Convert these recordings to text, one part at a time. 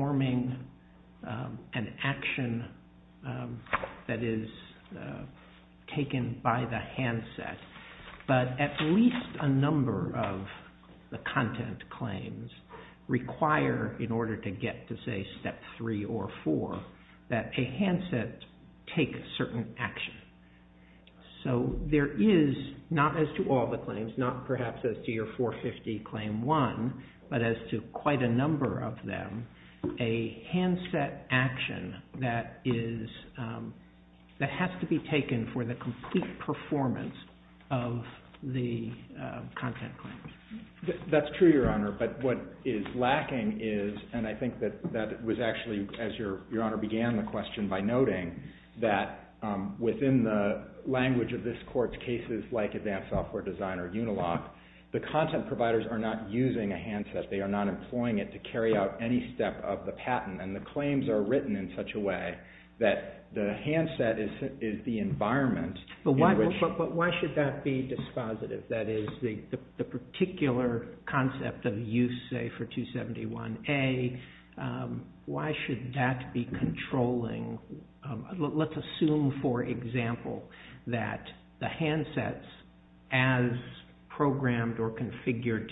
The York Times is a registered Trademark of the National Archives of Canada. It is not intended for use by minors below 18 years of age. It is intended for use by minors below 18 years of age. It is not intended for use by minors below 18 years of age. It is intended for use by minors below 18 years of age. A number of the content claims require, in order to get to, say, Step 3 or 4, that a handset take a certain action. So there is, not as to all the claims, not perhaps as to your 450 Claim 1, but as to quite a number of them, a handset action that has to be taken for the complete performance of the content claims. That's true, Your Honor, but what is lacking is, and I think that was actually, as Your Honor began the question, by noting that within the language of this Court's cases like Advanced Software Design or Unilock, the content providers are not using a handset. They are not employing it to carry out any step of the patent, and the claims are written in such a way that the handset is the environment in which... But why should that be dispositive? That is, the particular concept of use, say, for 271A, why should that be controlling? Let's assume, for example, that the handsets, as programmed or configured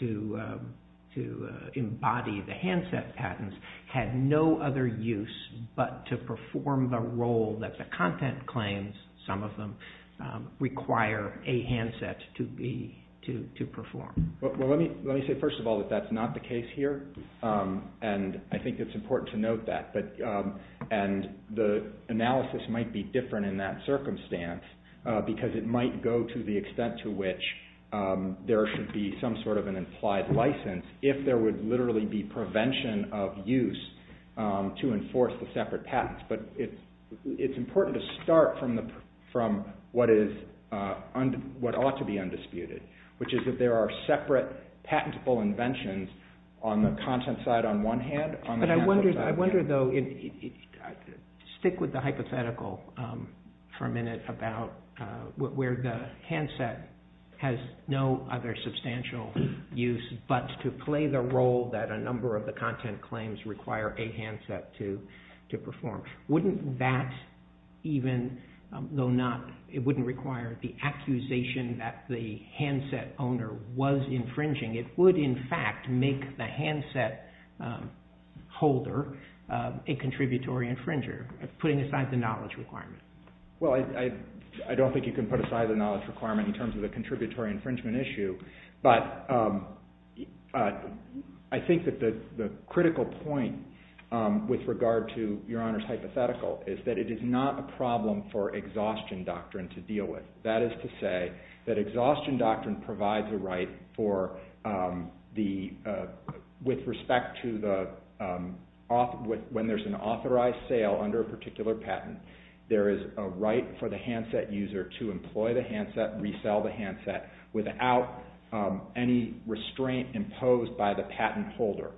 to embody the handset patents, had no other use but to perform the role that the content claims, some of them, require a handset to perform. Let me say first of all that that's not the case here, and I think it's important to note that, and the analysis might be different in that circumstance because it might go to the extent to which there should be some sort of an implied license if there would literally be prevention of use to enforce the separate patents. But it's important to start from what ought to be undisputed, which is that there are separate patentable inventions on the content side on one hand, on the handset side... I wonder, though, stick with the hypothetical for a minute about where the handset has no other substantial use but to play the role that a number of the content claims require a handset to perform. Wouldn't that even, though it wouldn't require the accusation that the handset holder, a contributory infringer, putting aside the knowledge requirement? Well, I don't think you can put aside the knowledge requirement in terms of the contributory infringement issue, but I think that the critical point with regard to Your Honor's hypothetical is that it is not a problem for exhaustion doctrine to deal with. That is to say that exhaustion doctrine provides a right for with respect to when there's an authorized sale under a particular patent there is a right for the handset user to employ the handset, resell the handset, without any restraint imposed by the patent holder.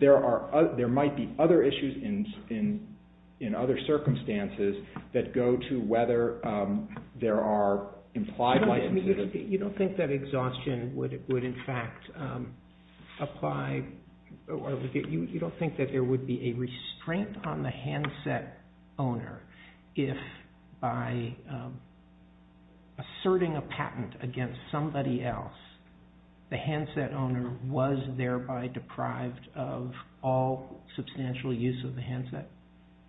There might be other issues in other circumstances that go to whether there are implied licenses. You don't think that exhaustion would in fact apply, you don't think that there would be a restraint on the handset owner if by asserting a patent against somebody else the handset owner was thereby deprived of all substantial use of the handset?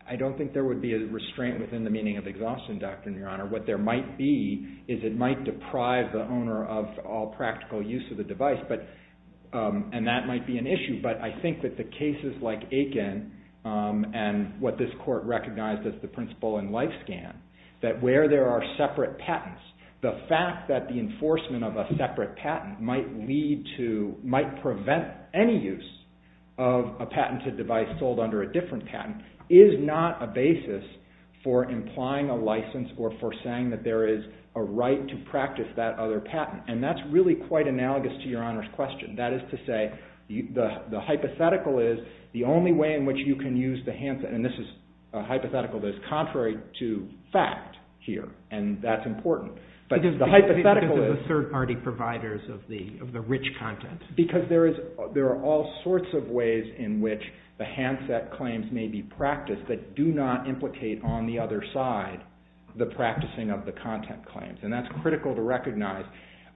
I don't think there would be a restraint within the meaning of exhaustion doctrine, Your Honor. What there might be is it might deprive the owner of all practical use of the device, and that might be an issue, but I think that the cases like Aiken and what this court recognized as the principle in separate patents, the fact that the enforcement of a separate patent might lead to, might prevent any use of a patented device sold under a different patent is not a basis for implying a license or for saying that there is a right to practice that other patent, and that's really quite analogous to Your Honor's question. That is to say the hypothetical is the only way in which you can use the handset, and this is a hypothetical that is contrary to fact here, and that's important. Because the hypothetical is the third party providers of the rich content. Because there are all sorts of ways in which the handset claims may be practiced that do not implicate on the other side the practicing of the content claims, and that's critical to recognize.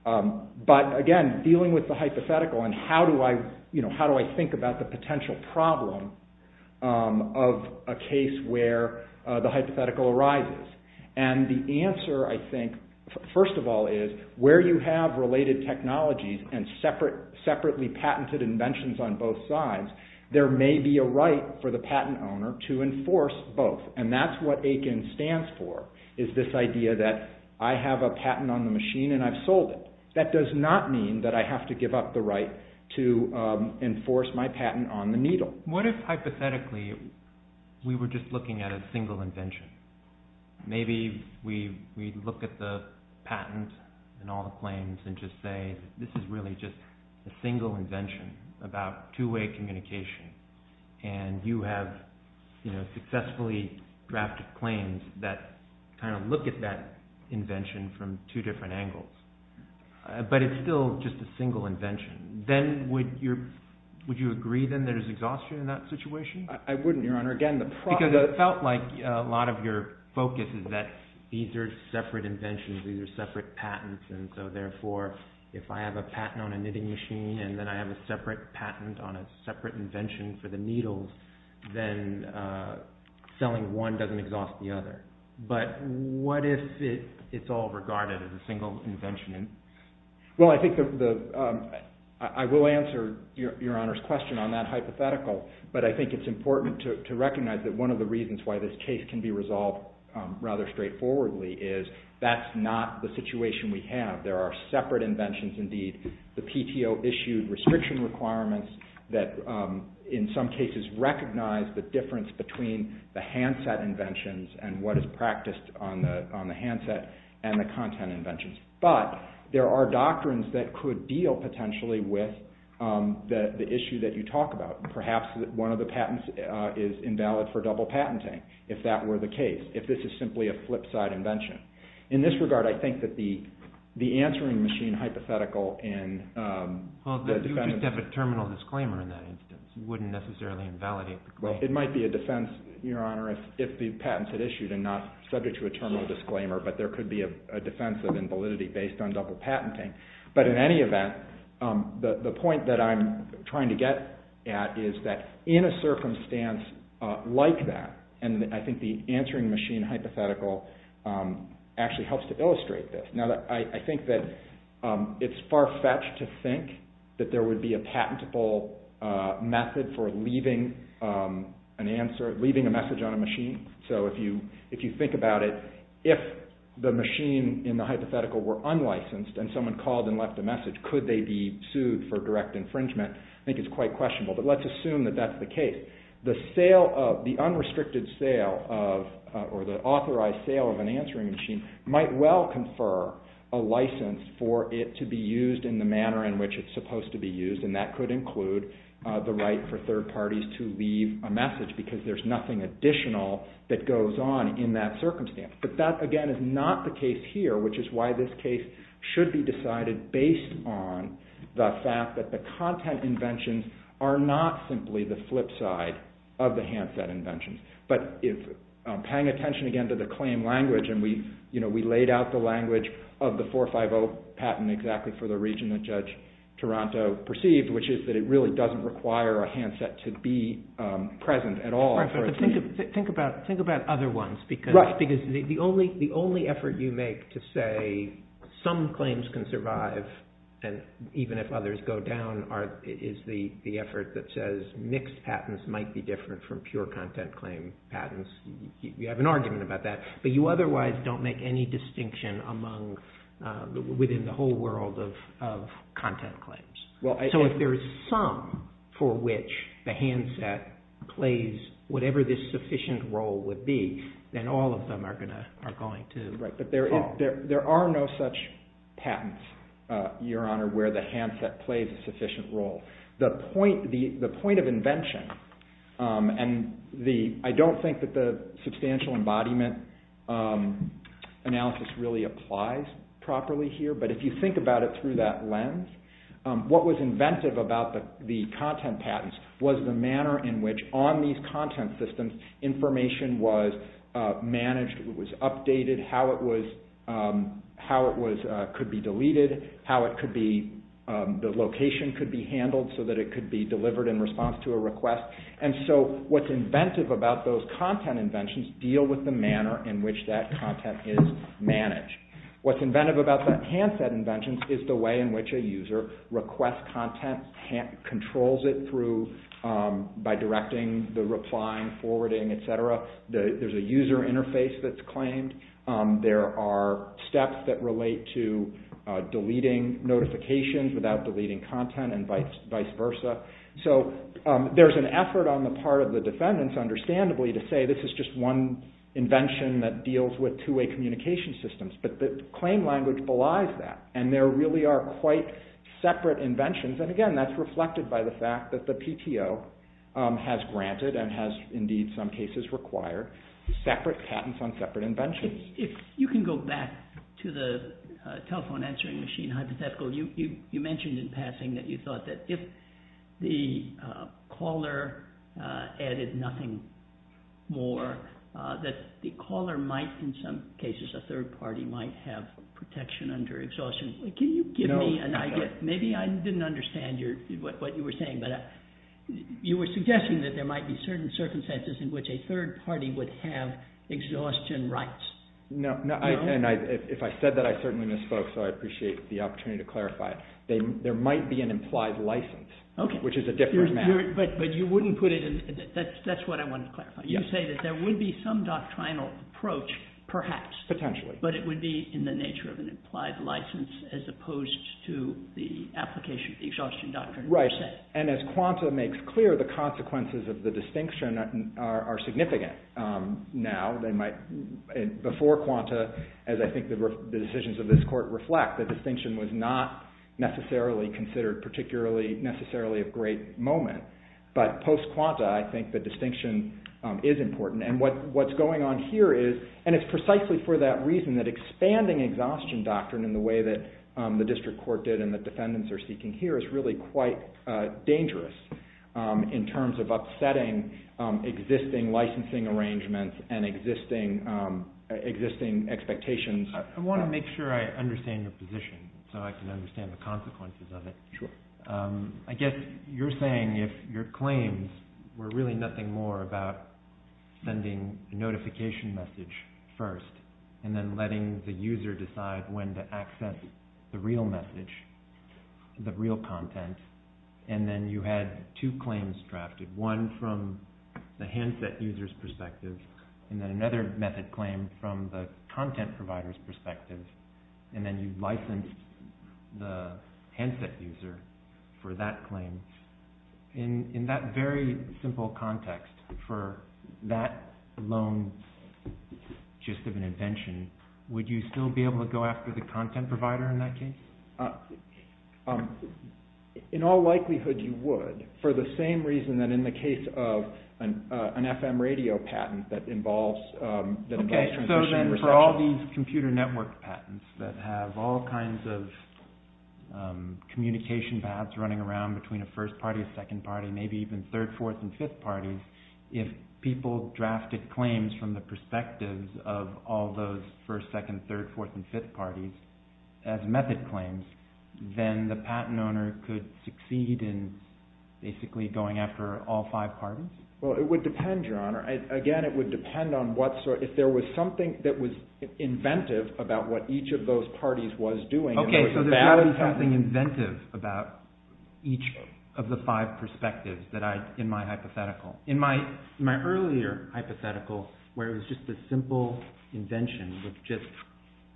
But again, dealing with the hypothetical and how do I think about the potential problem of a case where the hypothetical arises? And the answer, I think, first of all is where you have related technologies and separately patented inventions on both sides, there may be a right for the patent owner to enforce both, and that's what That does not mean that I have to give up the right to enforce my patent on the needle. What if hypothetically we were just looking at a single invention? Maybe we look at the patent and all the claims and just say this is really just a single invention about two-way communication, and you have successfully drafted claims that kind of look at that invention from two different angles. But it's still just a single invention. Then would you agree that there is exhaustion in that situation? Because it felt like a lot of your focus is that these are separate inventions, these are separate patents, and so therefore if I have a patent on a knitting machine and then I have a separate patent on a separate invention for the needles, then selling one doesn't exhaust the other. But what if it's all regarded as a single invention? I will answer Your Honor's question on that hypothetical, but I think it's important to recognize that one of the reasons why this case can be resolved rather straightforwardly is that's not the situation we have. There are separate inventions indeed. The PTO issued restriction requirements that in some cases recognize the difference between the handset inventions and what is practiced on the handset and the content inventions. But there are doctrines that could deal potentially with the issue that you talk about. Perhaps one of the patents is invalid for double patenting, if that were the case, if this is simply a flip side invention. In this regard, I think that the answering machine hypothetical in the defense... It might be a defense, Your Honor, if the patent is issued and not subject to a terminal disclaimer, but there could be a defense of invalidity based on double patenting. But in any event, the point that I'm trying to get at is that in a circumstance like that, and I think the answering machine hypothetical actually helps to illustrate this. I think that it's far-fetched to think that there would be a patentable method for leaving a message on a machine. So if you think about it, if the machine in the hypothetical were unlicensed and someone called and left a message, could they be sued for direct infringement? I think it's quite questionable, but let's assume that that's the case. The unrestricted sale or the authorized sale of an answering machine might well confer a license for it to be used in the manner in which it's supposed to be used, and that could include the right for third parties to leave a message because there's nothing additional that goes on in that circumstance. But that, again, is not the case here, which is why this case should be decided based on the fact that the content inventions are not simply the flip side of the handset inventions. But paying attention, again, to the claim language, and we laid out the language of the 450 patent exactly for the region that Judge Taranto perceived, which is that it really doesn't require a handset to be present at all for a team. Think about other ones because the only effort you make to say some claims can survive and even if others go down is the effort that says mixed patents might be different from pure content claim patents. You have an argument about that, but you otherwise don't make any distinction within the whole world of content claims. So if there is some for which the handset plays whatever the sufficient role would be, then all of them are going to fall. There are no such patents, Your Honor, where the handset plays a sufficient role. The point of invention, and I don't think that the substantial embodiment analysis really applies properly here, but if you think about it through that lens, what was inventive about the content patents was the manner in which on these content systems information was managed, it was updated, how it could be deleted, how the location could be handled so that it could be delivered in response to a request. And so what's inventive about those content inventions deal with the manner in which that content is managed. What's inventive about the handset inventions is the way in which a user requests content, controls it through by directing the replying, forwarding, etc. There's a user interface that's claimed. There are steps that relate to deleting notifications without deleting content and vice versa. So there's an effort on the part of the defendants understandably to say this is just one invention that deals with two-way communication systems, but the claim language belies that and there really are quite separate inventions and again that's reflected by the fact that the PTO has granted and has indeed in some cases required separate patents on separate inventions. If you can go back to the telephone answering machine hypothetical, you mentioned in passing that you thought that if the caller added nothing more, that the caller might in some cases, a third party might have protection under exhaustion. Can you give me an idea? Maybe I didn't understand what you were saying, but you were suggesting that there might be certain circumstances in which a third party would have exhaustion rights. No, and if I said that I certainly misspoke, so I appreciate the opportunity to clarify it. There might be an implied license, which is a different matter. That's what I wanted to clarify. You say that there would be some doctrinal approach, perhaps. Potentially. But it would be in the nature of an implied license as opposed to the application of the exhaustion doctrine. And as Quanta makes clear, the consequences of the distinction are significant. Now, before Quanta, as I think the decisions of this court reflect, the distinction was not necessarily considered particularly, necessarily a great moment. But post-Quanta, I think the distinction is important. And what's going on here is, and it's precisely for that reason that expanding exhaustion doctrine in the way that the district court did and the defendants are seeking here is really quite dangerous in terms of upsetting existing licensing arrangements and existing expectations. I want to make sure I understand your position so I can understand the consequences of it. I guess you're saying if your claims were really nothing more about sending a notification message first and then letting the user decide when to access the real message, the real content, and then you had two claims drafted, one from the handset user's perspective and then another method claim from the content provider's perspective, and then you licensed the handset user for that claim. In that very convention, would you still be able to go after the content provider in that case? In all likelihood you would, for the same reason that in the case of an FM radio patent that involves transmission and reception. Okay, so then for all these computer network patents that have all kinds of communication paths running around between a first party, a second party, maybe even all those first, second, third, fourth, and fifth parties as method claims, then the patent owner could succeed in basically going after all five parties? Well, it would depend, Your Honor. Again, it would depend on if there was something that was inventive about what each of those parties was doing. Okay, so there's got to be something inventive about each of the five perspectives in my hypothetical. In my earlier hypothetical, where it was just a simple invention with just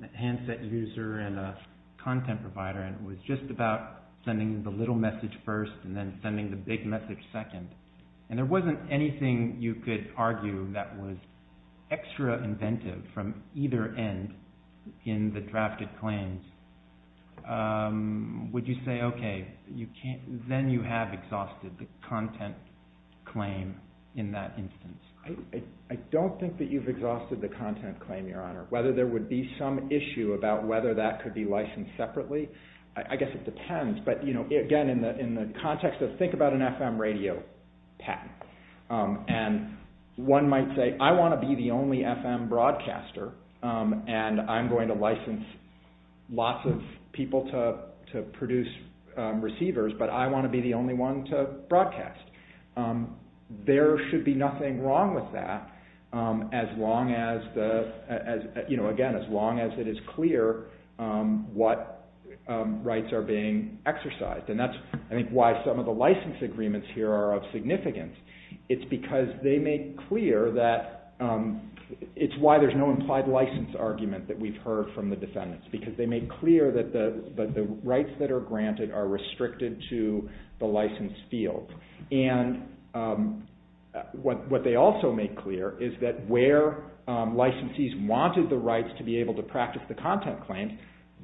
a handset user and a content provider, and it was just about sending the little message first and then sending the big message second, and there wasn't anything you could argue that was extra inventive from either end in the drafted claims. Would you say, okay, then you have exhausted the content claim in that instance? I don't think that you've exhausted the content claim, Your Honor. Whether there would be some issue about whether that could be licensed separately, I guess it depends. Again, in the context of, think about an FM radio patent. One might say, I want to be the only FM broadcaster, and I'm going to license lots of people to produce receivers, but I want to be the only one to broadcast. There should be nothing wrong with that, as long as it is clear what rights are being granted. It's because they make clear that it's why there's no implied license argument that we've heard from the defendants, because they make clear that the rights that are granted are restricted to the license field. What they also make clear is that where licensees wanted the rights to be able to practice the content claims,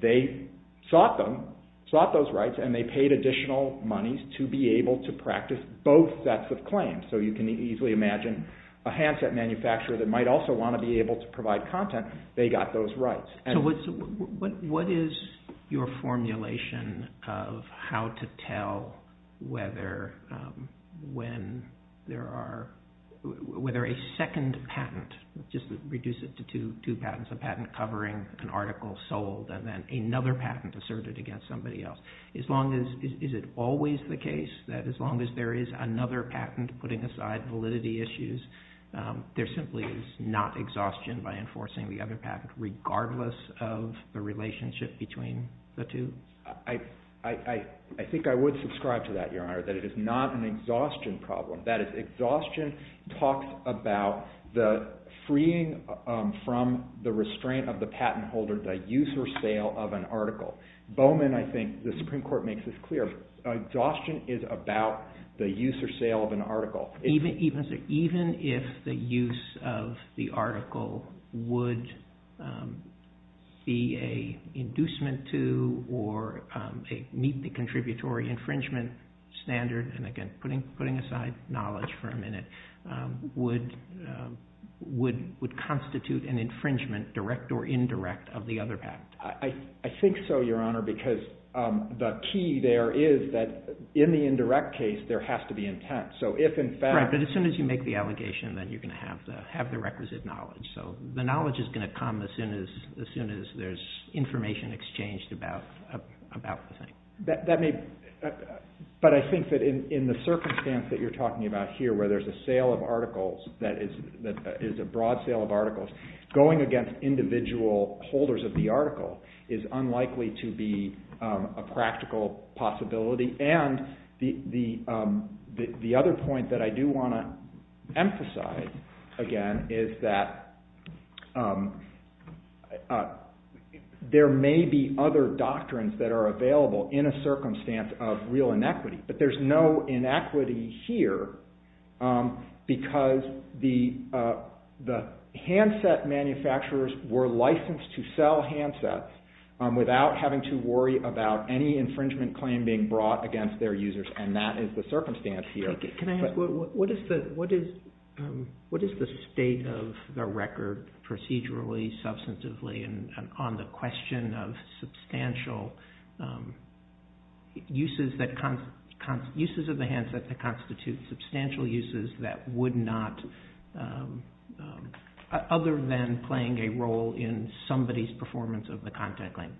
they sought them, sought those rights, and they paid additional monies to be able to practice both sets of claims. You can easily imagine a handset manufacturer that might also want to be able to provide content. They got those rights. What is your formulation of how to tell whether a second patent asserted against somebody else? Is it always the case that as long as there is another patent putting aside validity issues, there simply is not exhaustion by enforcing the other patent, regardless of the relationship between the two? I think I would subscribe to that, Your Honor, that it is not an exhaustion problem. That is, exhaustion talks about the freeing from the restraint of the patent holder, the use or sale of an article. Bowman, I think, the Supreme Court makes this clear. Exhaustion is about the use or sale of an article. Even if the use of the article would be an inducement to or meet the contributory infringement standard, and again, putting aside knowledge for a minute, would constitute an infringement, direct or indirect, of the other patent. I think so, Your Honor, because the key there is that in the indirect case, there has to be intent. As soon as you make the allegation, then you are going to have the requisite knowledge. The knowledge is going to come as soon as there is information exchanged about the thing. But I think that in the circumstance that you are talking about here, where there is a sale of articles, that is a broad sale of articles, going against individual holders of the article is unlikely to be a practical possibility. And the other point that I do want to emphasize again is that there may be other doctrines that are available in a circumstance of real inequity, but there is no inequity here because the handset manufacturers were licensed to sell handsets without having to worry about any infringement claim being brought against their users, and that is the circumstance here. What is the state of the record procedurally, substantively, and on the question of substantial uses of the handset that constitute substantial uses that would not, other than playing a role in somebody's performance of the contact claim?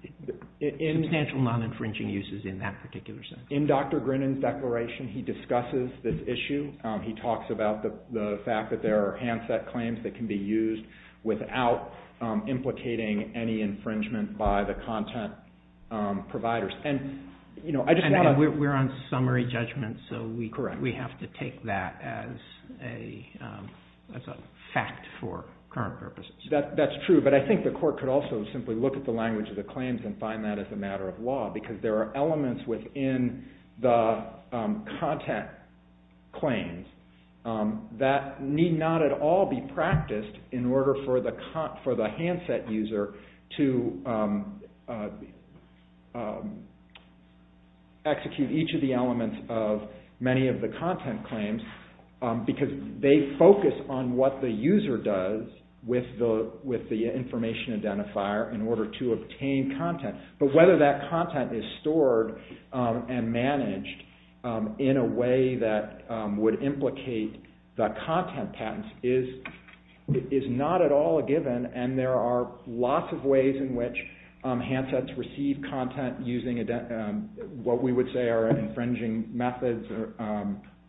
Substantial non-infringing uses in that particular sense. In Dr. Grinan's declaration, he discusses this issue. He talks about the fact that there are handset claims that can be used without implicating any infringement by the content providers. And we're on summary judgment, so we have to take that as a fact for current purposes. That's true, but I think the court could also simply look at the language of the claims and find that as a matter of law, because there are elements within the content claims that need not at all be practiced in order for the handset user to execute each of the elements of many of the content claims, because they focus on what the user does with the information identifier in order to obtain content. But whether that content is stored and managed in a way that would implicate the content patents is not at all a given, and there are lots of ways in which handsets receive content using what we would say are infringing methods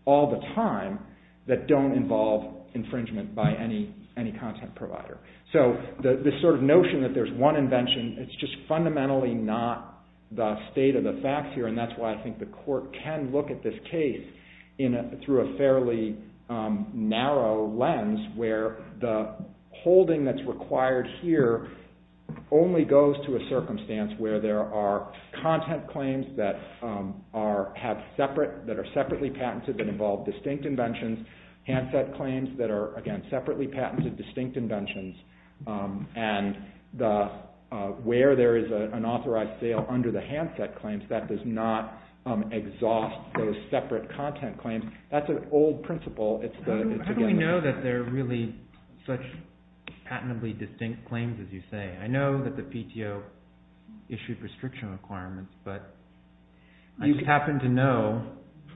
all the time that don't involve infringement by any content provider. So this sort of notion that there's one invention, it's just fundamentally not the state of the facts here, and that's why I think the court can look at this case through a fairly narrow lens where the holding that's required here only goes to a circumstance where there are content claims that are separately patented that involve distinct inventions, handset claims that are, again, separately patented distinct inventions, and where there is an authorized sale under the handset claims, that does not exhaust those separate content claims. That's an old principle. How do we know that there are really such patently distinct claims as you say? I know that the PTO issued restriction requirements, but I just happen to know,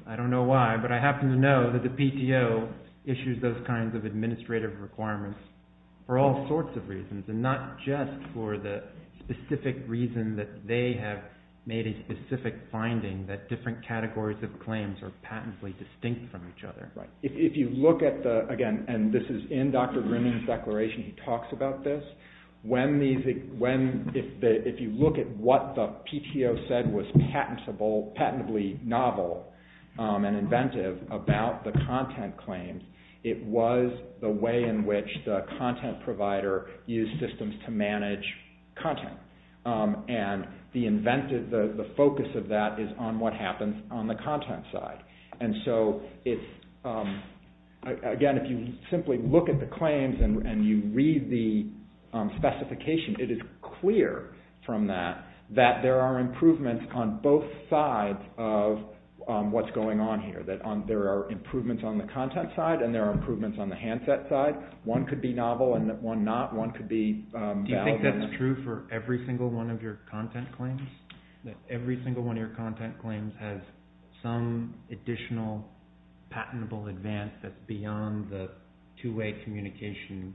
I don't know why, but I happen to know that the PTO issues those kinds of administrative requirements for all sorts of reasons and not just for the specific reason that they have made a specific finding that different categories of claims are patently distinct from each other. If you look at the, again, and this is in Dr. Grimman's declaration, he talks about this, if you look at what the PTO said was patently novel and inventive about the content claims, it was the way in which the content provider used systems to manage content, and the simply look at the claims and you read the specification, it is clear from that that there are improvements on both sides of what's going on here. There are improvements on the content side and there are improvements on the handset side. One could be novel and one not. Do you think that's true for every single one of your content claims? That every single one of your content claims has a two-way communication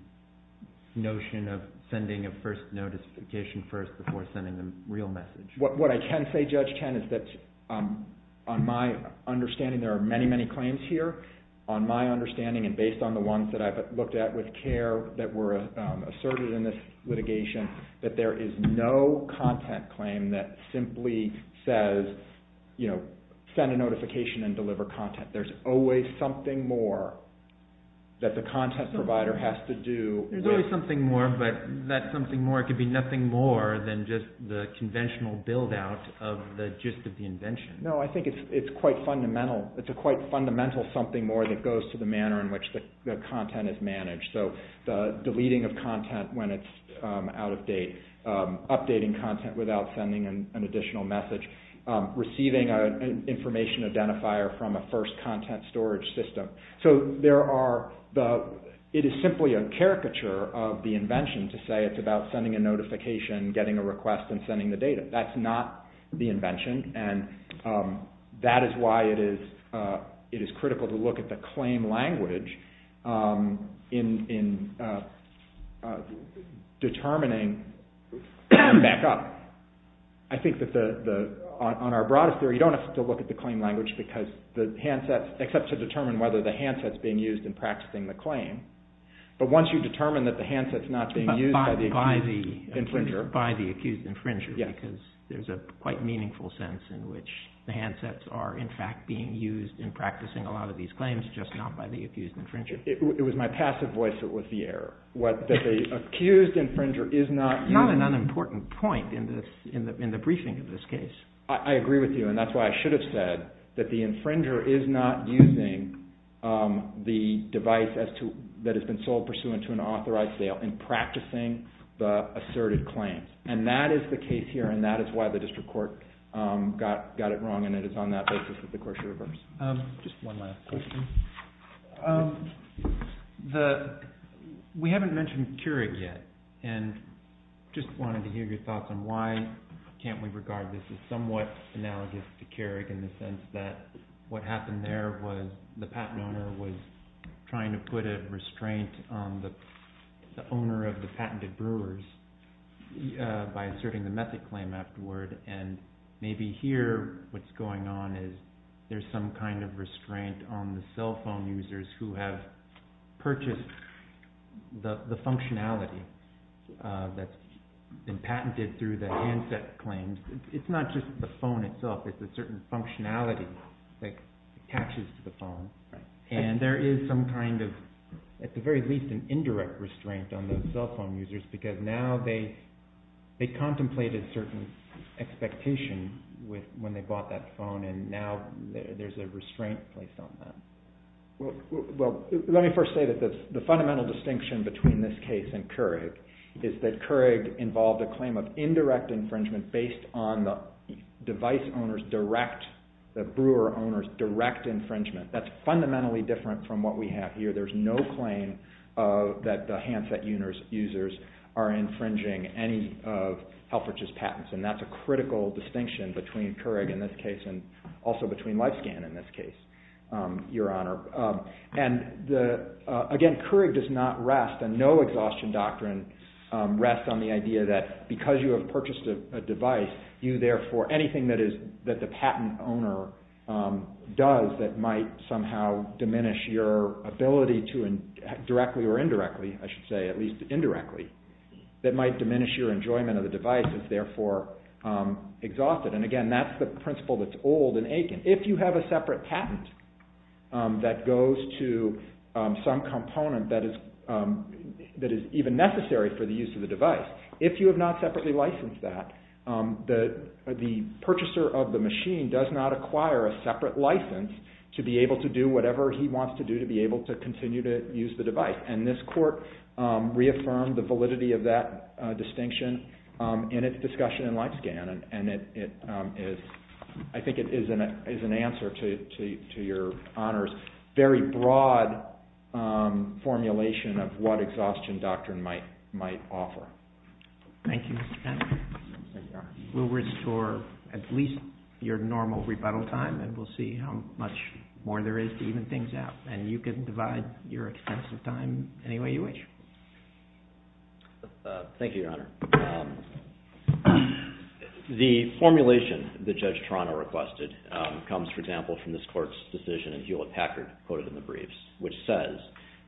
notion of sending a first notification first before sending the real message? What I can say, Judge Ken, is that on my understanding, there are many, many claims here. On my understanding and based on the ones that I've looked at with CARE that were asserted in this litigation, that there is no content claim that simply says send a notification and deliver content. There's always something more that the content provider has to do. There's always something more, but that something more could be nothing more than just the conventional build-out of the gist of the invention. No, I think it's quite fundamental. It's a quite fundamental something more that goes to the manner in which the content is managed. The deleting of content when it's out of date. Updating content without sending an additional message. Receiving an information identifier from a first content storage system. It is simply a caricature of the invention to say it's about sending a notification, getting a request and sending the data. That's not the invention and that is why it is critical to look at the claim language in determining back up. I think that on our broadest theory, you don't have to look at the claim language except to determine whether the handset is being used in practicing the claim. But once you determine that the handset is not being used by the accused infringer. There's a quite meaningful sense in which the handsets are in fact being used in practicing a lot of these claims just not by the accused infringer. It was my passive voice that was the error. Not an unimportant point in the briefing of this case. I agree with you and that's why I should have said that the infringer is not using the device that has been sold pursuant to an authorized sale in practicing the asserted claim. That is the case here and that is why the district court got it wrong and it is on that basis that the court should reverse. Just one last question. We haven't mentioned Keurig yet and just wanted to hear your thoughts on why can't we regard this as somewhat analogous to Keurig in the sense that what happened there was the patent owner was trying to put a restraint on the owner of the patented brewers by asserting the method claim afterward and maybe here what's going on is there's some kind of restraint on the cell phone users who have purchased the functionality that's been patented through the handset claims. It's not just the phone itself. It's a certain functionality that attaches to the phone and there is some kind of at the very least an indirect restraint on the cell phone users because now they contemplated certain expectations when they bought that phone and now there's a restraint placed on them. Let me first say that the fundamental distinction between this case and Keurig is that Keurig involved a claim of indirect infringement based on the device owner's direct, the brewer owner's direct infringement. That's fundamentally different from what we have here. There's no claim that the handset users are infringing any of Helfrich's patents and that's a critical distinction between Keurig in this case and also between Lifescan in this case, Your Honor. Again, Keurig does not rest and no exhaustion doctrine rests on the idea that because you have purchased a device, you therefore anything that the patent owner does that might somehow diminish your ability to directly or indirectly, I should say at least indirectly, that might diminish your enjoyment of the device is therefore exhausted. Again, that's the principle that's old and aching. If you have a separate patent that goes to some component that is even necessary for the use of the device, if you have not separately licensed that, the purchaser of the used the device and this court reaffirmed the validity of that distinction in its discussion in Lifescan and I think it is an answer to Your Honor's very broad formulation of what exhaustion doctrine might offer. Thank you, Mr. Penner. We'll restore at least your normal rebuttal time and we'll see how much more there is to even things out and you can divide your extensive time any way you wish. Thank you, Your Honor. The formulation that Judge Toronto requested comes, for example, from this court's decision in Hewlett-Packard, quoted in the briefs, which says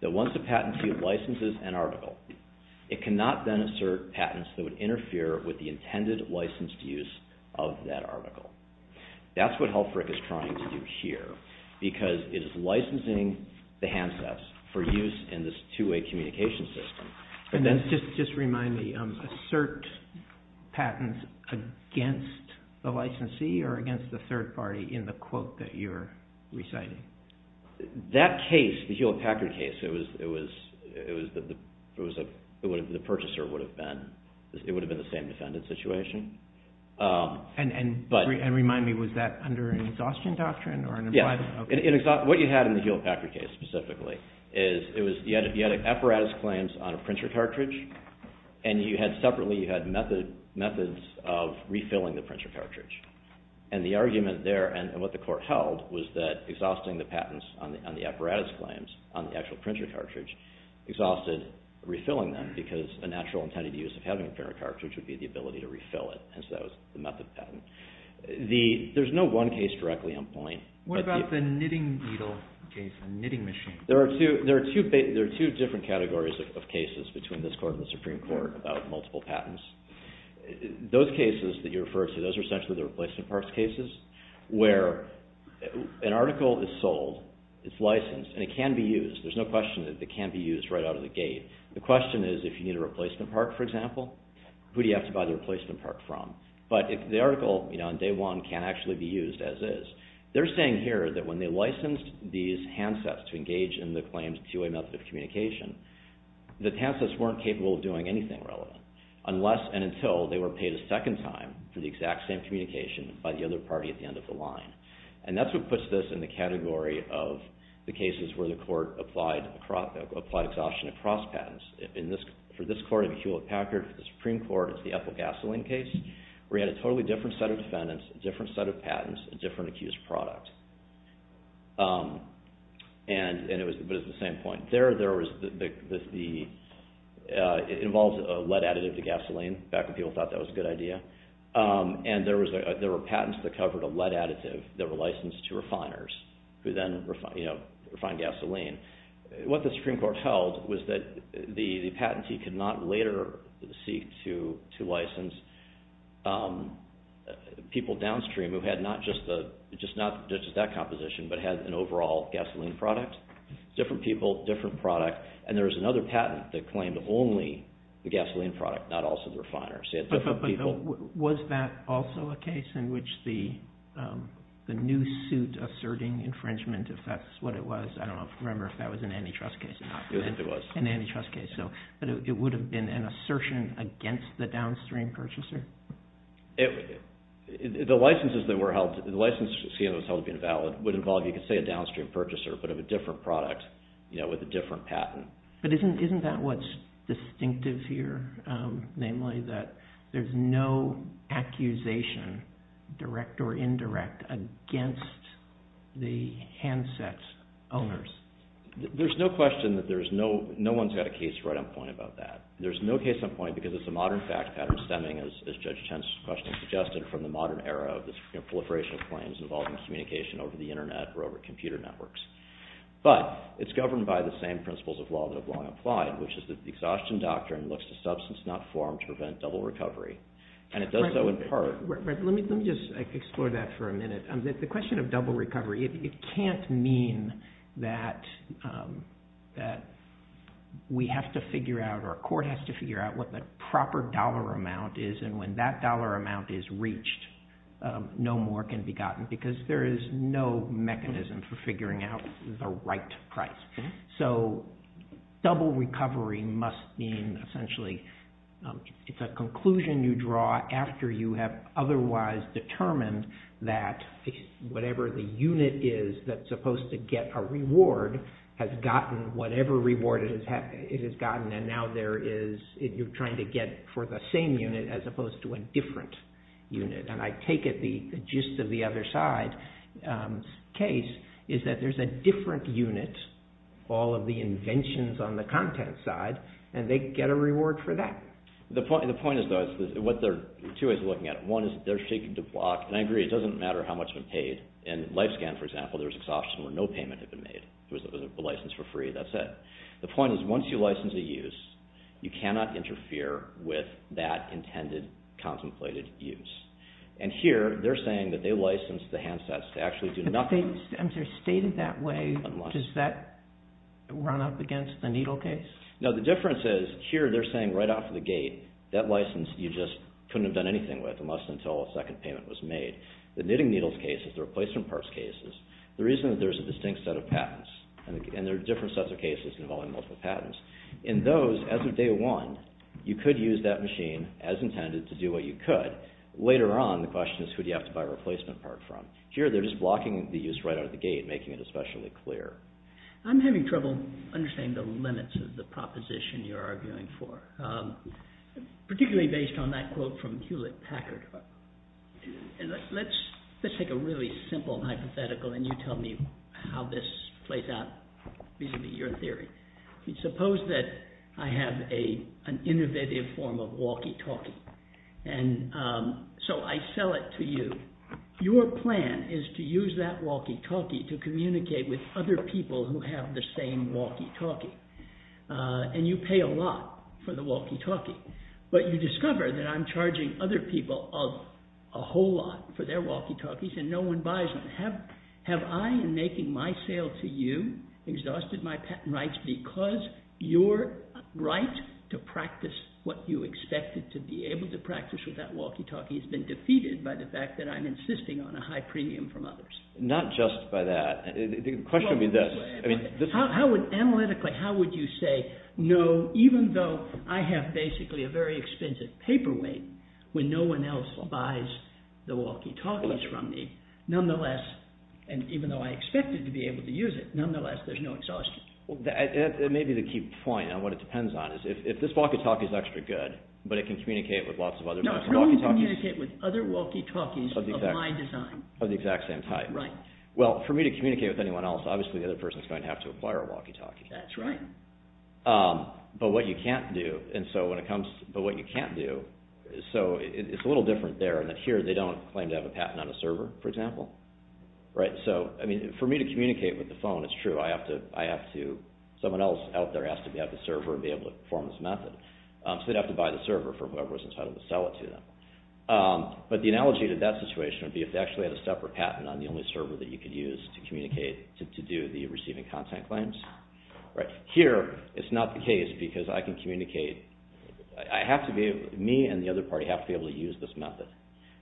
that once a patent field licenses an article, it cannot then assert patents that would interfere with the intended licensed use of that article. That's what Helfrich is trying to do here because it is licensing the handsets for use in this two-way communication system. Just remind me, assert patents against the licensee or against the third party in the quote that you're referring to. It would have been the same defendant situation. And remind me, was that under an exhaustion doctrine? Yes. What you had in the Hewlett-Packard case specifically is you had apparatus claims on a printer cartridge and you had separately, you had methods of refilling the printer cartridge and the argument there and what the court held was that exhausting the patents on the apparatus claims on the actual printer cartridge exhausted refilling them because a natural intended use of having a printer cartridge would be the ability to refill it. There's no one case directly on point. What about the knitting needle case, the knitting machine? There are two different categories of cases between this court and the Supreme Court about multiple patents. Those cases that you referred to, those are essentially the replacement parts cases where an article is sold, it's licensed, and it can be used. There's no question that it can be used right out of the gate. The question is if you need a replacement part, for example, who do you have to buy the replacement part from? But the article on day one can actually be used as is. They're saying here that when they licensed these handsets to engage in the claimed two-way method of communication, the handsets weren't capable of doing anything relevant unless and until they were paid a second time for the exact same communication by the other party at the end of the line. And that's what puts this in the category of the cases where the court applied exhaustion across patents. For this court, it would be Hewlett-Packard. For the Supreme Court, it's the Eppel Gasoline case where you had a totally different set of defendants, a different set of patents, a different accused product. But it's the same point. It involves a lead additive to gasoline. Back when people thought that was a good idea. And there were patents that covered a lead additive that were licensed to refiners who then refined gasoline. What the Supreme Court held was that the patentee could not later seek to license people downstream who had not just that composition, but had an overall gasoline product. Different people, different product. And there was another patent that claimed only the gasoline product, not also the refiners. Was that also a case in which the new suit was asserting infringement, if that's what it was? I don't remember if that was an antitrust case or not. But it would have been an assertion against the downstream purchaser? The license scheme that was held to be invalid would involve, you could say, a downstream purchaser, but of a different product with a different patent. But isn't that what's distinctive here? Namely that there's no accusation, direct or indirect, against the handset's owners. No one's got a case right on point about that. There's no case on point because it's a modern fact pattern stemming, as Judge Chen's question suggested, from the modern era of this proliferation of claims involving communication over the internet or over computer networks. But it's governed by the same principles of law that have long applied, which is that the exhaustion doctrine looks to substance not formed to prevent double recovery. And it does so in part. Let me just explore that for a minute. The question of double recovery, it can't mean that we have to figure out or a court has to figure out what the proper dollar amount is and when that dollar amount is reached. No more can be gotten because there is no mechanism for figuring out the right price. So double recovery must mean, essentially, it's a conclusion you draw after you have otherwise determined that whatever the unit is that's supposed to get a reward has gotten whatever reward it has gotten. And now you're trying to get for the same unit as opposed to a different unit. And I take it the gist of the other side case is that there's a different unit, all of the inventions on the content side, and they get a reward for that. The point is, though, there are two ways of looking at it. One is they're shaking the block. And I agree, it doesn't matter how much has been paid. In LifeScan, for example, there was exhaustion where no payment had been made. It was a license for free. That's it. The point is once you license a use, you cannot interfere with that intended contemplated use. And here they're saying that they licensed the handsets to actually do nothing. But they stated that way. Does that run up against the needle case? No, the difference is here they're saying right off the gate that license you just couldn't have done anything with unless until a second payment was made. The knitting needles case is the replacement parts cases. The reason that there's a distinct set of patents and there are different sets of cases involving multiple patents, in those, as of day one, you could use that machine as intended to do what you could. Later on, the question is who do you have to buy a replacement part from? Here they're just arguing for. Particularly based on that quote from Hewlett-Packard. Let's take a really simple hypothetical and you tell me how this plays out vis-a-vis your theory. Suppose that I have an innovative form of walkie-talkie. And so I sell it to you. Your plan is to use that walkie-talkie to communicate with other people who have the same walkie-talkie. And you pay a lot for the walkie-talkie. But you discover that I'm charging other people a whole lot for their walkie-talkies and no one buys them. Have I, in making my sale to you, exhausted my patent rights because your right to practice what you expected to be able to practice with that walkie-talkie has been defeated by the fact that I'm insisting on a high premium from others? Not just by that. The question would be this. Analytically, how would you say, no, even though I have basically a very expensive paperweight, when no one else buys the walkie-talkies from me, nonetheless, and even though I expected to be able to use it, nonetheless, there's no exhaustion. Well, that may be the key point. And what it depends on is if this walkie-talkie is extra good, but it can communicate with lots of other walkie-talkies. No, it can only communicate with other walkie-talkies of my design. Of the exact same type. Right. Well, for me to communicate with anyone else, obviously the other person is going to have to apply our walkie-talkie. That's right. But what you can't do, so it's a little different there in that here they don't claim to have a patent on a server, for example. Right. So, I mean, for me to communicate with the phone, it's true, I have to, someone else out there has to have the server and be able to perform this method. So they'd have to buy the server for whoever was entitled to sell it to them. But the analogy to that situation would be if they actually had a separate patent on the only server that you could use to communicate, to do the receiving content claims. Right. Here, it's not the case because I can communicate, I have to be able, me and the other party have to be able to use this method.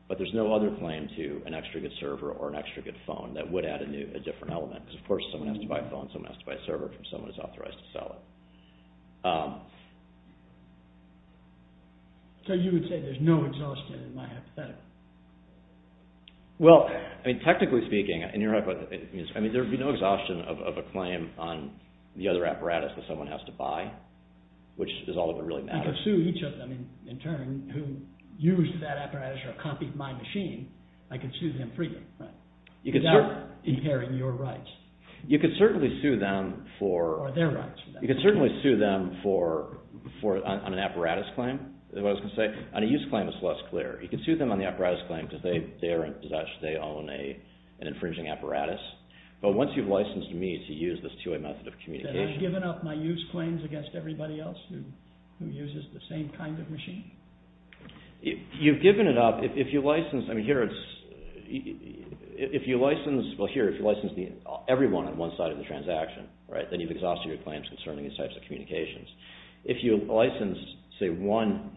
But there's no other claim to an extra good server or an extra good phone that would add a new, a different element. Because, of course, someone has to buy a phone, someone has to buy a server if someone is authorized to sell it. So you would say there's no exhaustion in my hypothetical? Well, I mean, technically speaking, I mean, there would be no exhaustion of a claim on the other server. It doesn't really matter. I could sue each of them in turn who used that apparatus or copied my machine, I could sue them freely, right? Without impairing your rights. You could certainly sue them for... Or their rights. You could certainly sue them for, on an apparatus claim, is what I was going to say. On a use claim, it's less clear. You could sue them on the apparatus claim because they are, as such, they own an infringing apparatus. But once you've licensed me to use this two-way method of communication... Have I given up my use claims against everybody else who uses the same kind of machine? You've given it up. If you license... I mean, here it's... If you license... Well, here, if you license everyone on one side of the transaction, right, then you've exhausted your claims concerning these types of communications. If you license, say, one,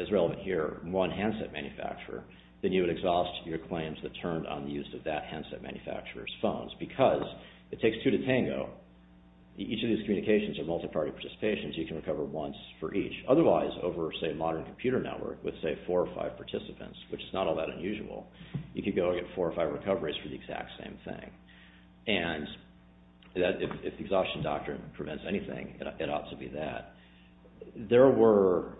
as relevant here, one handset manufacturer, then you would exhaust your claims that turned on the use of that handset manufacturer's phones because it takes two to tango. Each of these communications are multiparty participations. You can recover once for each. Otherwise, over, say, a modern computer network, with, say, four or five participants, which is not all that unusual, you could go and get four or five recoveries for the exact same thing. And if the exhaustion doctrine prevents anything, it ought to be that. There were...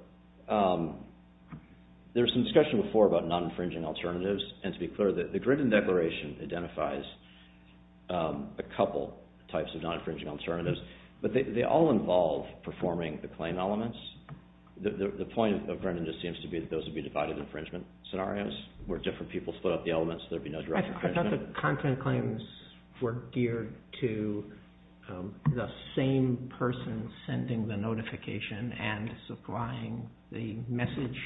There was some discussion before about non-infringing alternatives, and to be clear, the Grindon Declaration identifies a couple types of non-infringing alternatives, but they all involve performing the claim elements. The point of Grindon just seems to be that those would be divided infringement scenarios, where different people split up the elements, there'd be no direct infringement. I thought the content claims were geared to the same person sending the notification and supplying the message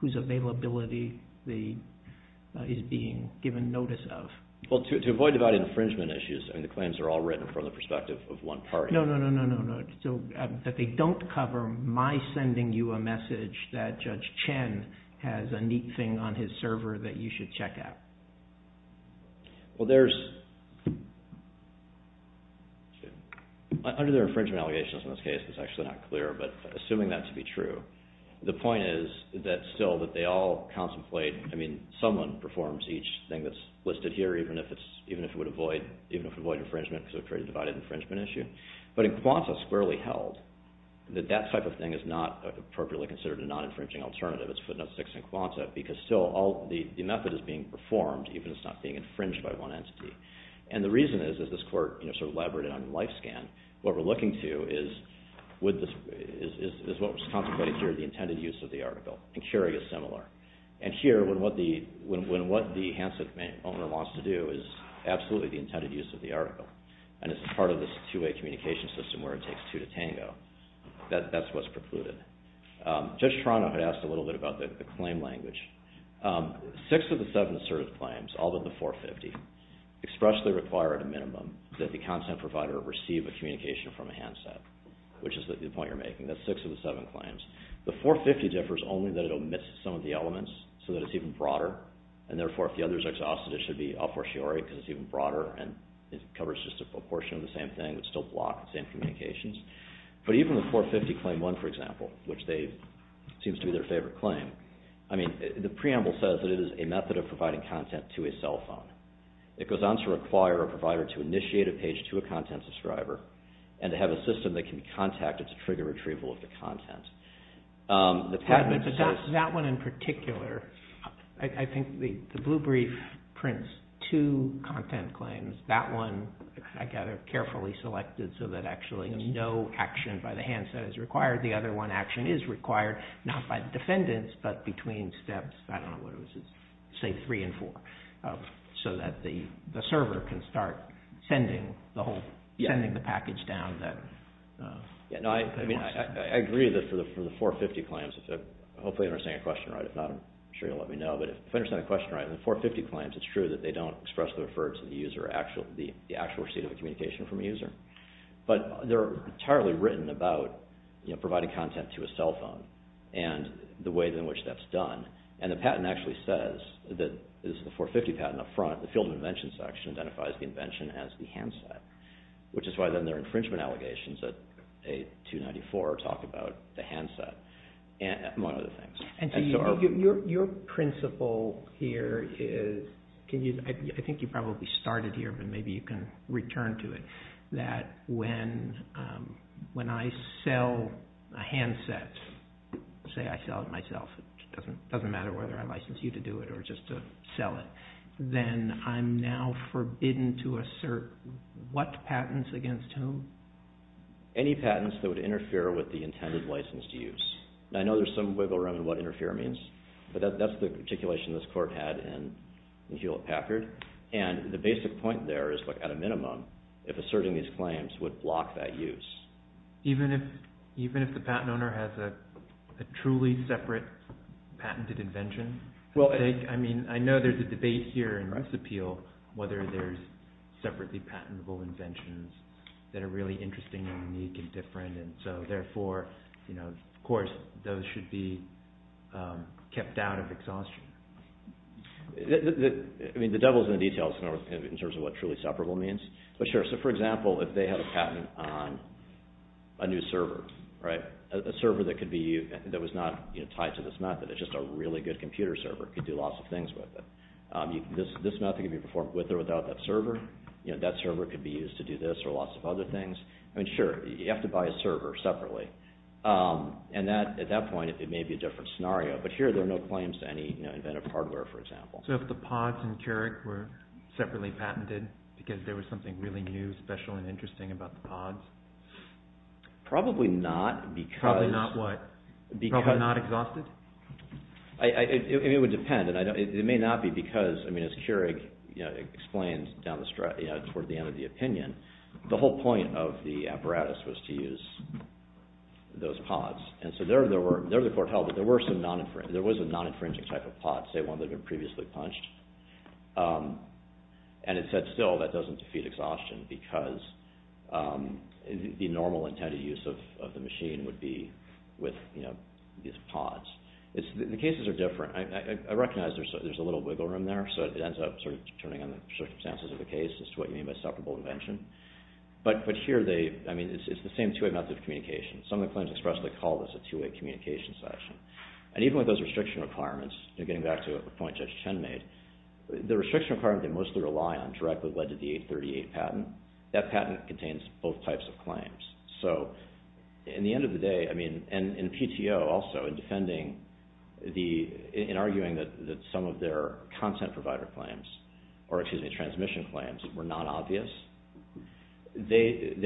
whose availability is being given notice of. Well, to avoid divided infringement issues, I mean, the claims are all written from the perspective of one party. No, no, no, no, no. That they don't cover my sending you a message that Judge Chen has a neat thing on his server that you should check out. Well, there's... Under their infringement allegations in this case, it's actually not clear, but assuming that to be true, the point is that still that they all contemplate, I mean, someone performs each thing that's listed here, even if it would avoid infringement because it would create a divided infringement issue. But in Kwanzaa, squarely held, that that type of thing is not appropriately considered a non-infringing alternative. It's footnote six in Kwanzaa, because still the method is being performed, even if it's not being infringed by one entity. And the reason is, as this Court sort of elaborated on in LifeScan, what we're looking to is what was contemplated here as the intended use of the article. And Curie is similar. And here, when what the handset owner wants to do is absolutely the intended use of the article, and it's part of this two-way communication system where it takes two to tango, that's what's precluded. Judge Toronto had asked a little bit about the claim language. Six of the seven asserted claims, all but the 450, expressly require at a minimum that the content provider receive a communication from a handset, which is the point you're making, that's six of the seven claims. The 450 differs only that it omits some of the elements, so that it's even broader, and therefore if the other is exhausted, it should be a fortiori, because it's even broader, and it covers just a proportion of the same thing, but still block the same communications. But even the 450 Claim 1, for example, which seems to be their favorite claim, the preamble says that it is a method of providing content to a cell phone. It goes on to require a provider to initiate a page to a content subscriber, and to have a system that can be contacted to trigger retrieval of the content. That one in particular, I think the blue brief prints two content claims. That one, I gather, carefully selected so that actually no action by the handset is required. The other one action is required, not by the defendants, but between steps, I don't know what it was, say three and four, so that the server can start sending the package down. I agree that for the 450 claims, hopefully I'm saying the question right. If not, I'm sure you'll let me know, but if I understand the question right, the 450 claims, it's true that they don't expressly refer to the actual receipt of a communication from a user. But they're entirely written about providing content to a cell phone, and the way in which that's done. The patent actually says, this is the 450 patent up front, the field of invention section identifies the invention as the handset. Which is why then their infringement allegations at 294 talk about the handset. Your principle here is, I think you probably started here, but maybe you can return to it, that when I sell a handset, say I sell it myself, it doesn't matter whether I license you to do it or just to sell it, then I'm now forbidden to assert what patents against whom? Any patents that would interfere with the intended license to use. I know there's some wiggle room in what interfere means, but that's the articulation this court had in Hewlett-Packard, and the basic point there is at a minimum, if asserting these claims would block that use. Even if the patent owner has a truly separate patented invention? I know there's a debate here in this appeal whether there's separately patentable inventions that are really interesting and unique and different, and so therefore of course those should be kept out of exhaustion. The devil's in the details in terms of what truly separable means. For example, if they had a patent on a new server, a server that was not tied to this method. It's just a really good computer server. It could do lots of things with it. This method could be performed with or without that server. That server could be used to do this or lots of other things. Sure, you have to buy a server separately. At that point, it may be a different scenario, but here there are no claims to any inventive hardware, for example. So if the pods in Keurig were separately patented because there was something really new, special, and interesting about the pods? Probably not because... Probably not what? Probably not exhausted? It would depend. It may not be because, as Keurig explains toward the end of the opinion, the whole point of the apparatus was to use those pods. There was a non-infringing type of pod, say one that had been previously punched, and it said still that doesn't defeat exhaustion because the normal intended use of the machine would be with these pods. The cases are different. I recognize there's a little wiggle room there, so it ends up sort of turning on the circumstances of the case as to what you mean by separable invention. But here, it's the same two-way method of communication. Some of the claims expressly call this a two-way communication section. And even with those restriction requirements, getting back to a point Judge Chen made, the restriction requirement they mostly rely on directly led to the 838 patent. That patent contains both types of claims. So in the end of the day, and in PTO also, in arguing that some of their content provider claims, or excuse me, transmission claims, were not obvious, they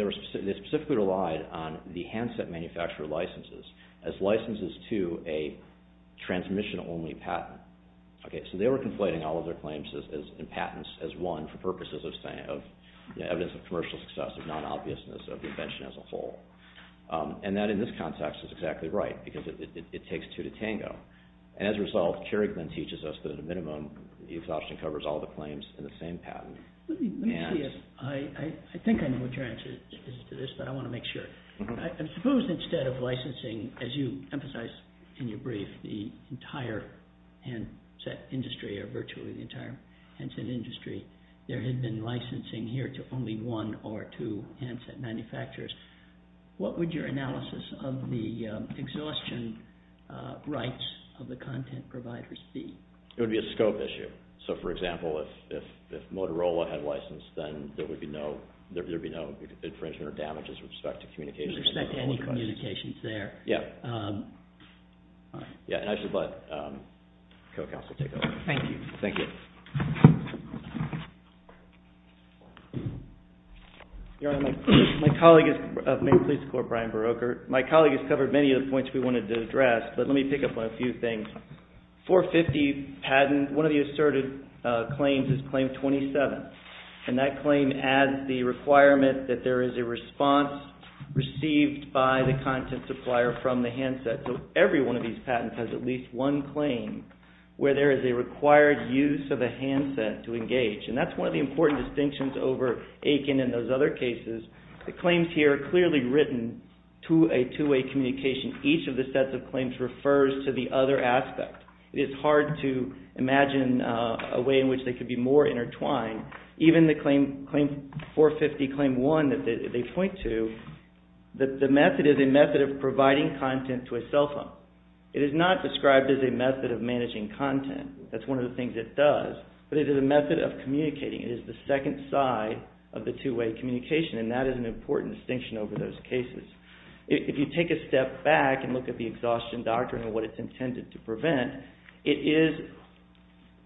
specifically relied on the handset manufacturer licenses as licenses to a transmission-only patent. So they were conflating all of their claims and patents as one for purposes of evidence of commercial success, of non-obviousness, of the invention as a whole. And that in this context is exactly right, because it takes two to tango. And as a result, Keurig then teaches us that at a minimum, the exhaustion covers all the claims in the same patent. I think I know what your answer is to this, but I want to make sure. I suppose instead of licensing, as you emphasized in your brief, the entire handset industry, or virtually the entire handset industry, there had been licensing here to only one or two handset manufacturers. What would your analysis of the exhaustion rights of the content providers be? It would be a scope issue. So for example, if Motorola had license, then there would be no infringement or damage with respect to communications. With respect to any communications there. Yeah. And I should let co-counsel take over. Thank you. Thank you. Your Honor, my colleague is of Maine Police Corps, Brian Beroker. My colleague has covered many of the points we wanted to address, but let me pick up on a few things. 450 patents, one of the asserted claims is claim 27. And that claim adds the requirement that there is a response received by the content supplier from the handset. So every one of these patents has at least one claim where there is a required use of a handset to engage. And that's one of the important distinctions over Aiken and those other cases. The claims here are clearly written to a two-way communication. Each of the sets of claims refers to the other aspect. It's hard to imagine a way in which they could be more intertwined. Even the claim 450 claim 1 that they point to, the method is a method of providing content to a cell phone. It is not described as a method of managing content. That's one of the things it does. But it is a method of communicating. It is the second side of the two-way communication. And that is an important distinction over those cases. If you take a step back and look at the exhaustion doctrine and what it's intended to prevent, it is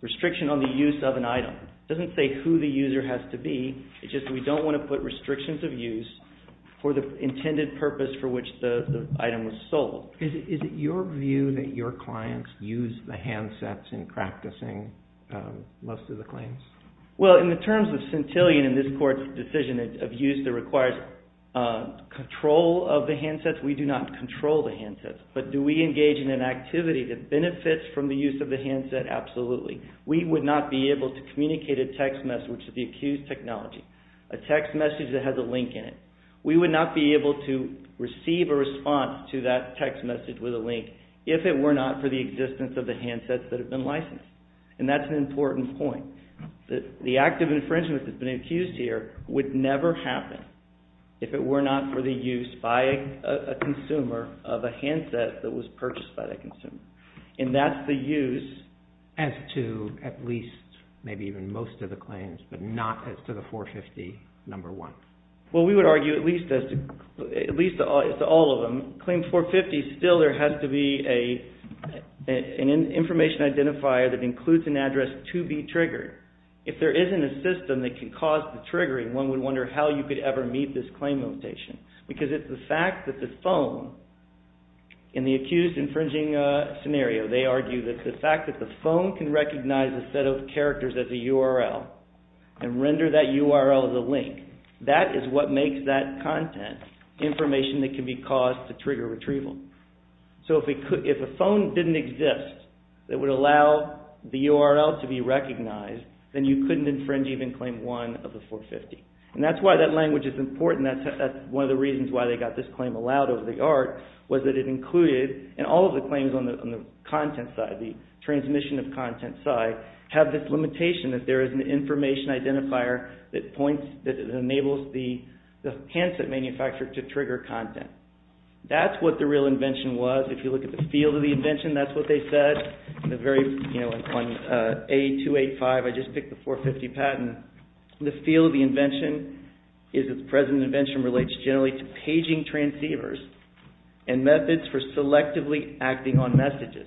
restriction on the use of an item. It doesn't say who the user has to be. It's just we don't want to put restrictions of use for the intended purpose for which the item was sold. Is it your view that your clients use the handsets in practicing most of the claims? Well, in the terms of centillion in this court's decision of use that requires control of the handsets, we do not control the handsets. But do we engage in an activity that benefits from the use of the handset? Absolutely. We would not be able to communicate a text message with the accused technology. A text message that has a link in it. We would not be able to receive a response to that text message with a link if it were not for the existence of the handsets that have been licensed. And that's an important point. The act of infringement that's been accused here would never happen if it were not for the use by a consumer of a handset that was purchased by the consumer. And that's the use. As to at least, maybe even most of the claims, but not as to the 450, number one. Well, we would argue at least all of them. Claim 450, still there has to be an information identifier that includes an address to be triggered. If there isn't a system that can cause the triggering, one would wonder how you could ever meet this claim limitation. Because it's the fact that the phone, in the accused infringing scenario, they argue that the fact that the phone can recognize a set of characters as a URL and render that URL as a link, that is what makes that content information that can be caused to trigger retrieval. So if a phone didn't exist that would allow the URL to be recognized, then you couldn't infringe even claim one of the 450. And that's why that language is important. That's one of the reasons why they got this claim allowed over the art was that it included, and all of the claims on the content side, the transmission of content side, have this limitation that there is an information identifier that enables the handset manufacturer to trigger content. That's what the real invention was. If you look at the field of the invention, that's what they said. On A285, I just picked the 450 patent. The field of the invention is that the present invention relates generally to paging transceivers and methods for selectively acting on messages.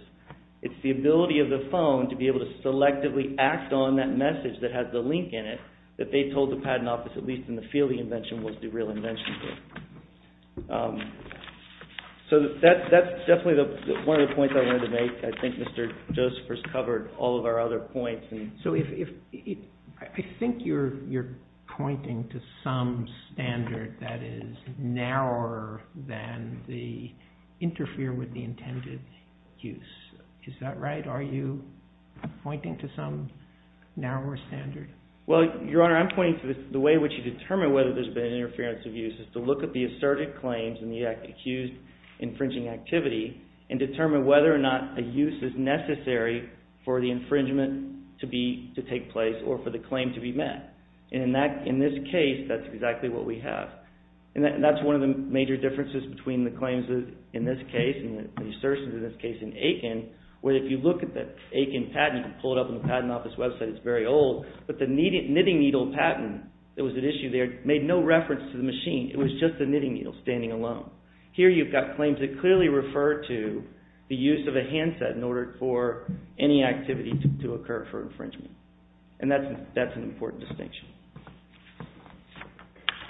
It's the ability of the phone to be able to selectively act on that message that has the link in it, that they told the patent office, at least in the field of the invention, was the real invention. So that's definitely one of the points I wanted to make. I think Mr. Gould is pointing to some standard that is narrower than the interfere with the intended use. Is that right? Are you pointing to some narrower standard? Well, Your Honor, I'm pointing to the way in which you determine whether there's been an interference of use is to look at the asserted claims and the accused infringing activity and determine whether or not a use is based. That's exactly what we have. That's one of the major differences between the claims in this case and the assertions in this case in Aiken, where if you look at the Aiken patent, you can pull it up on the patent office website. It's very old, but the knitting needle patent that was at issue there made no reference to the machine. It was just the knitting needle standing alone. Here you've got claims that clearly refer to the use of a handset in order for any activity to occur for infringement, and that's an important distinction.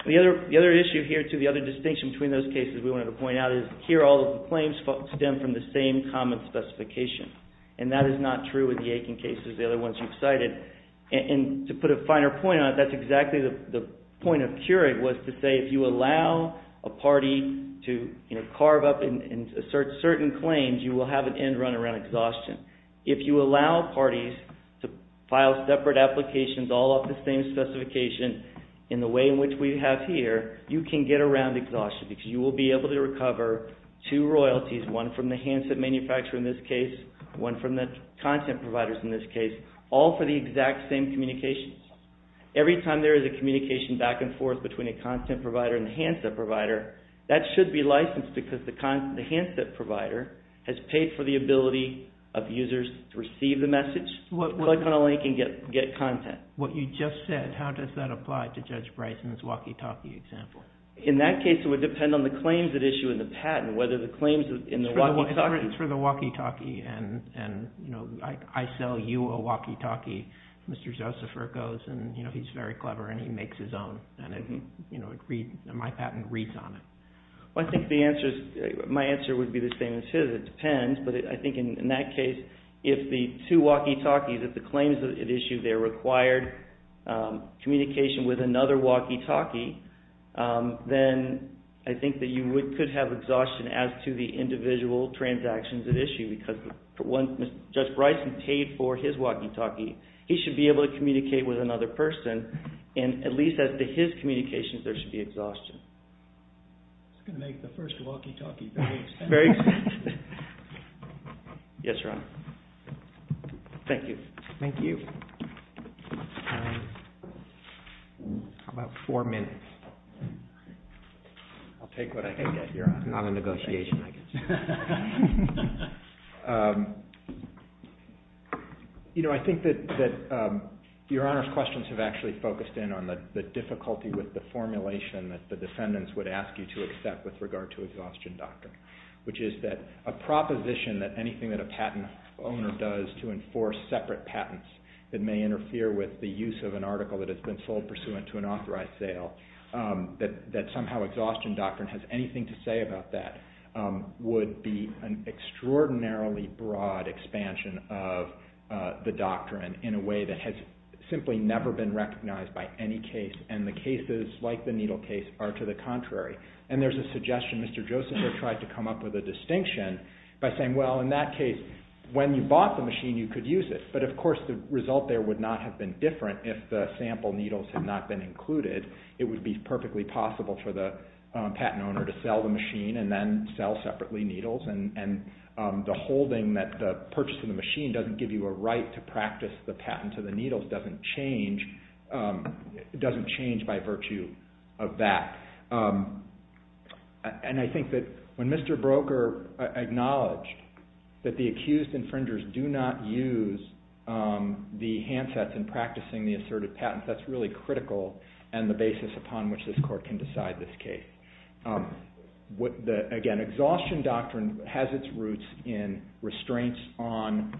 The other issue here, too, the other distinction between those cases we wanted to point out is here all the claims stem from the same common specification, and that is not true with the Aiken cases, the other ones you've cited. And to put a finer point on it, that's exactly the point of curate, was to say if you allow a party to carve up and assert certain claims, you will have an end run around exhaustion. If you allow parties to file separate applications all off the same specification in the way in which we have here, you can get around exhaustion because you will be able to recover two royalties, one from the handset manufacturer in this case, one from the content providers in this case, all for the exact same communications. Every time there is a communication back and forth between a content provider and a handset provider, that should be licensed because the handset provider has paid for the ability of users to receive the message, but can only get content. What you just said, how does that apply to Judge Bryson's walkie-talkie example? In that case, it would depend on the claims at issue in the patent, whether the claims in the walkie-talkie... My answer would be the same as his. It depends, but I think in that case, if the two walkie-talkies, if the claims at issue there required communication with another walkie-talkie, then I think that you could have exhaustion as to the individual transactions at issue because Judge Bryson paid for his walkie-talkie. He should be able to communicate with another person, and at least as to his communications, there should be exhaustion. It's going to make the first walkie-talkie very expensive. Yes, Your Honor. Thank you. Thank you. How about four minutes? I'll take what I can get, Your Honor. Not a negotiation, I guess. I think that Your Honor's questions have actually focused in on the difficulty with the formulation that the defendants would ask you to accept with regard to exhaustion doctrine, which is that a proposition that anything that a patent owner does to enforce separate patents that may interfere with the use of an article that has been fulfilled pursuant to an authorized sale, that somehow exhaustion doctrine has anything to say about that, would be an extraordinarily broad expansion of the doctrine in a way that has simply never been recognized by any case, and the cases, like the needle case, are to the contrary. There's a suggestion Mr. Joseph had tried to come up with a distinction by saying, well, in that case, when you say the needle case would not have been different if the sample needles had not been included, it would be perfectly possible for the patent owner to sell the machine and then sell separately needles, and the holding that the purchase of the machine doesn't give you a right to practice the patent to the needles doesn't change by virtue of that. And I think that when Mr. Broker acknowledged that the accused infringers do not use the patent sets in practicing the assertive patents, that's really critical and the basis upon which this court can decide this case. Again, exhaustion doctrine has its roots in restraints on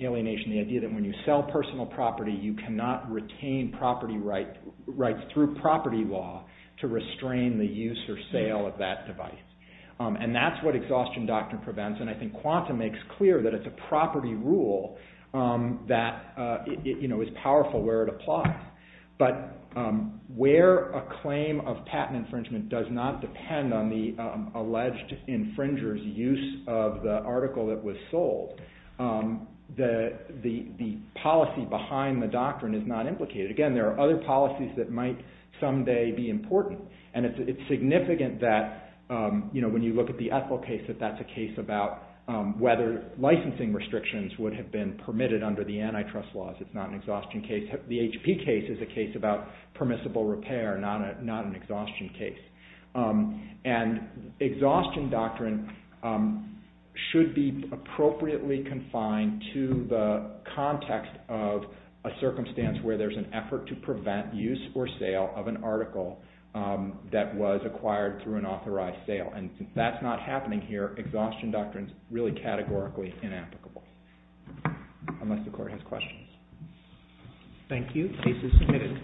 alienation, the idea that when you sell personal property, you cannot retain property rights through property law to restrain the use or sale of that device. And that's what exhaustion doctrine prevents, and I think Quanta makes clear that it's a property rule that is powerful where it applies. But where a claim of patent infringement does not depend on the alleged infringer's use of the article that was sold, the policy behind the doctrine is not implicated. Again, there are other policies that might someday be important, and it's significant that when you look at the Ethel case, that that's a case about whether there's an exhaustion case. The HP case is a case about permissible repair, not an exhaustion case. And exhaustion doctrine should be appropriately confined to the context of a circumstance where there's an effort to prevent use or sale of an article that was acquired through an authorized sale. And since that's not happening here, exhaustion doctrine is really categorically inapplicable, unless the Court has questions. Thank you. Case is submitted.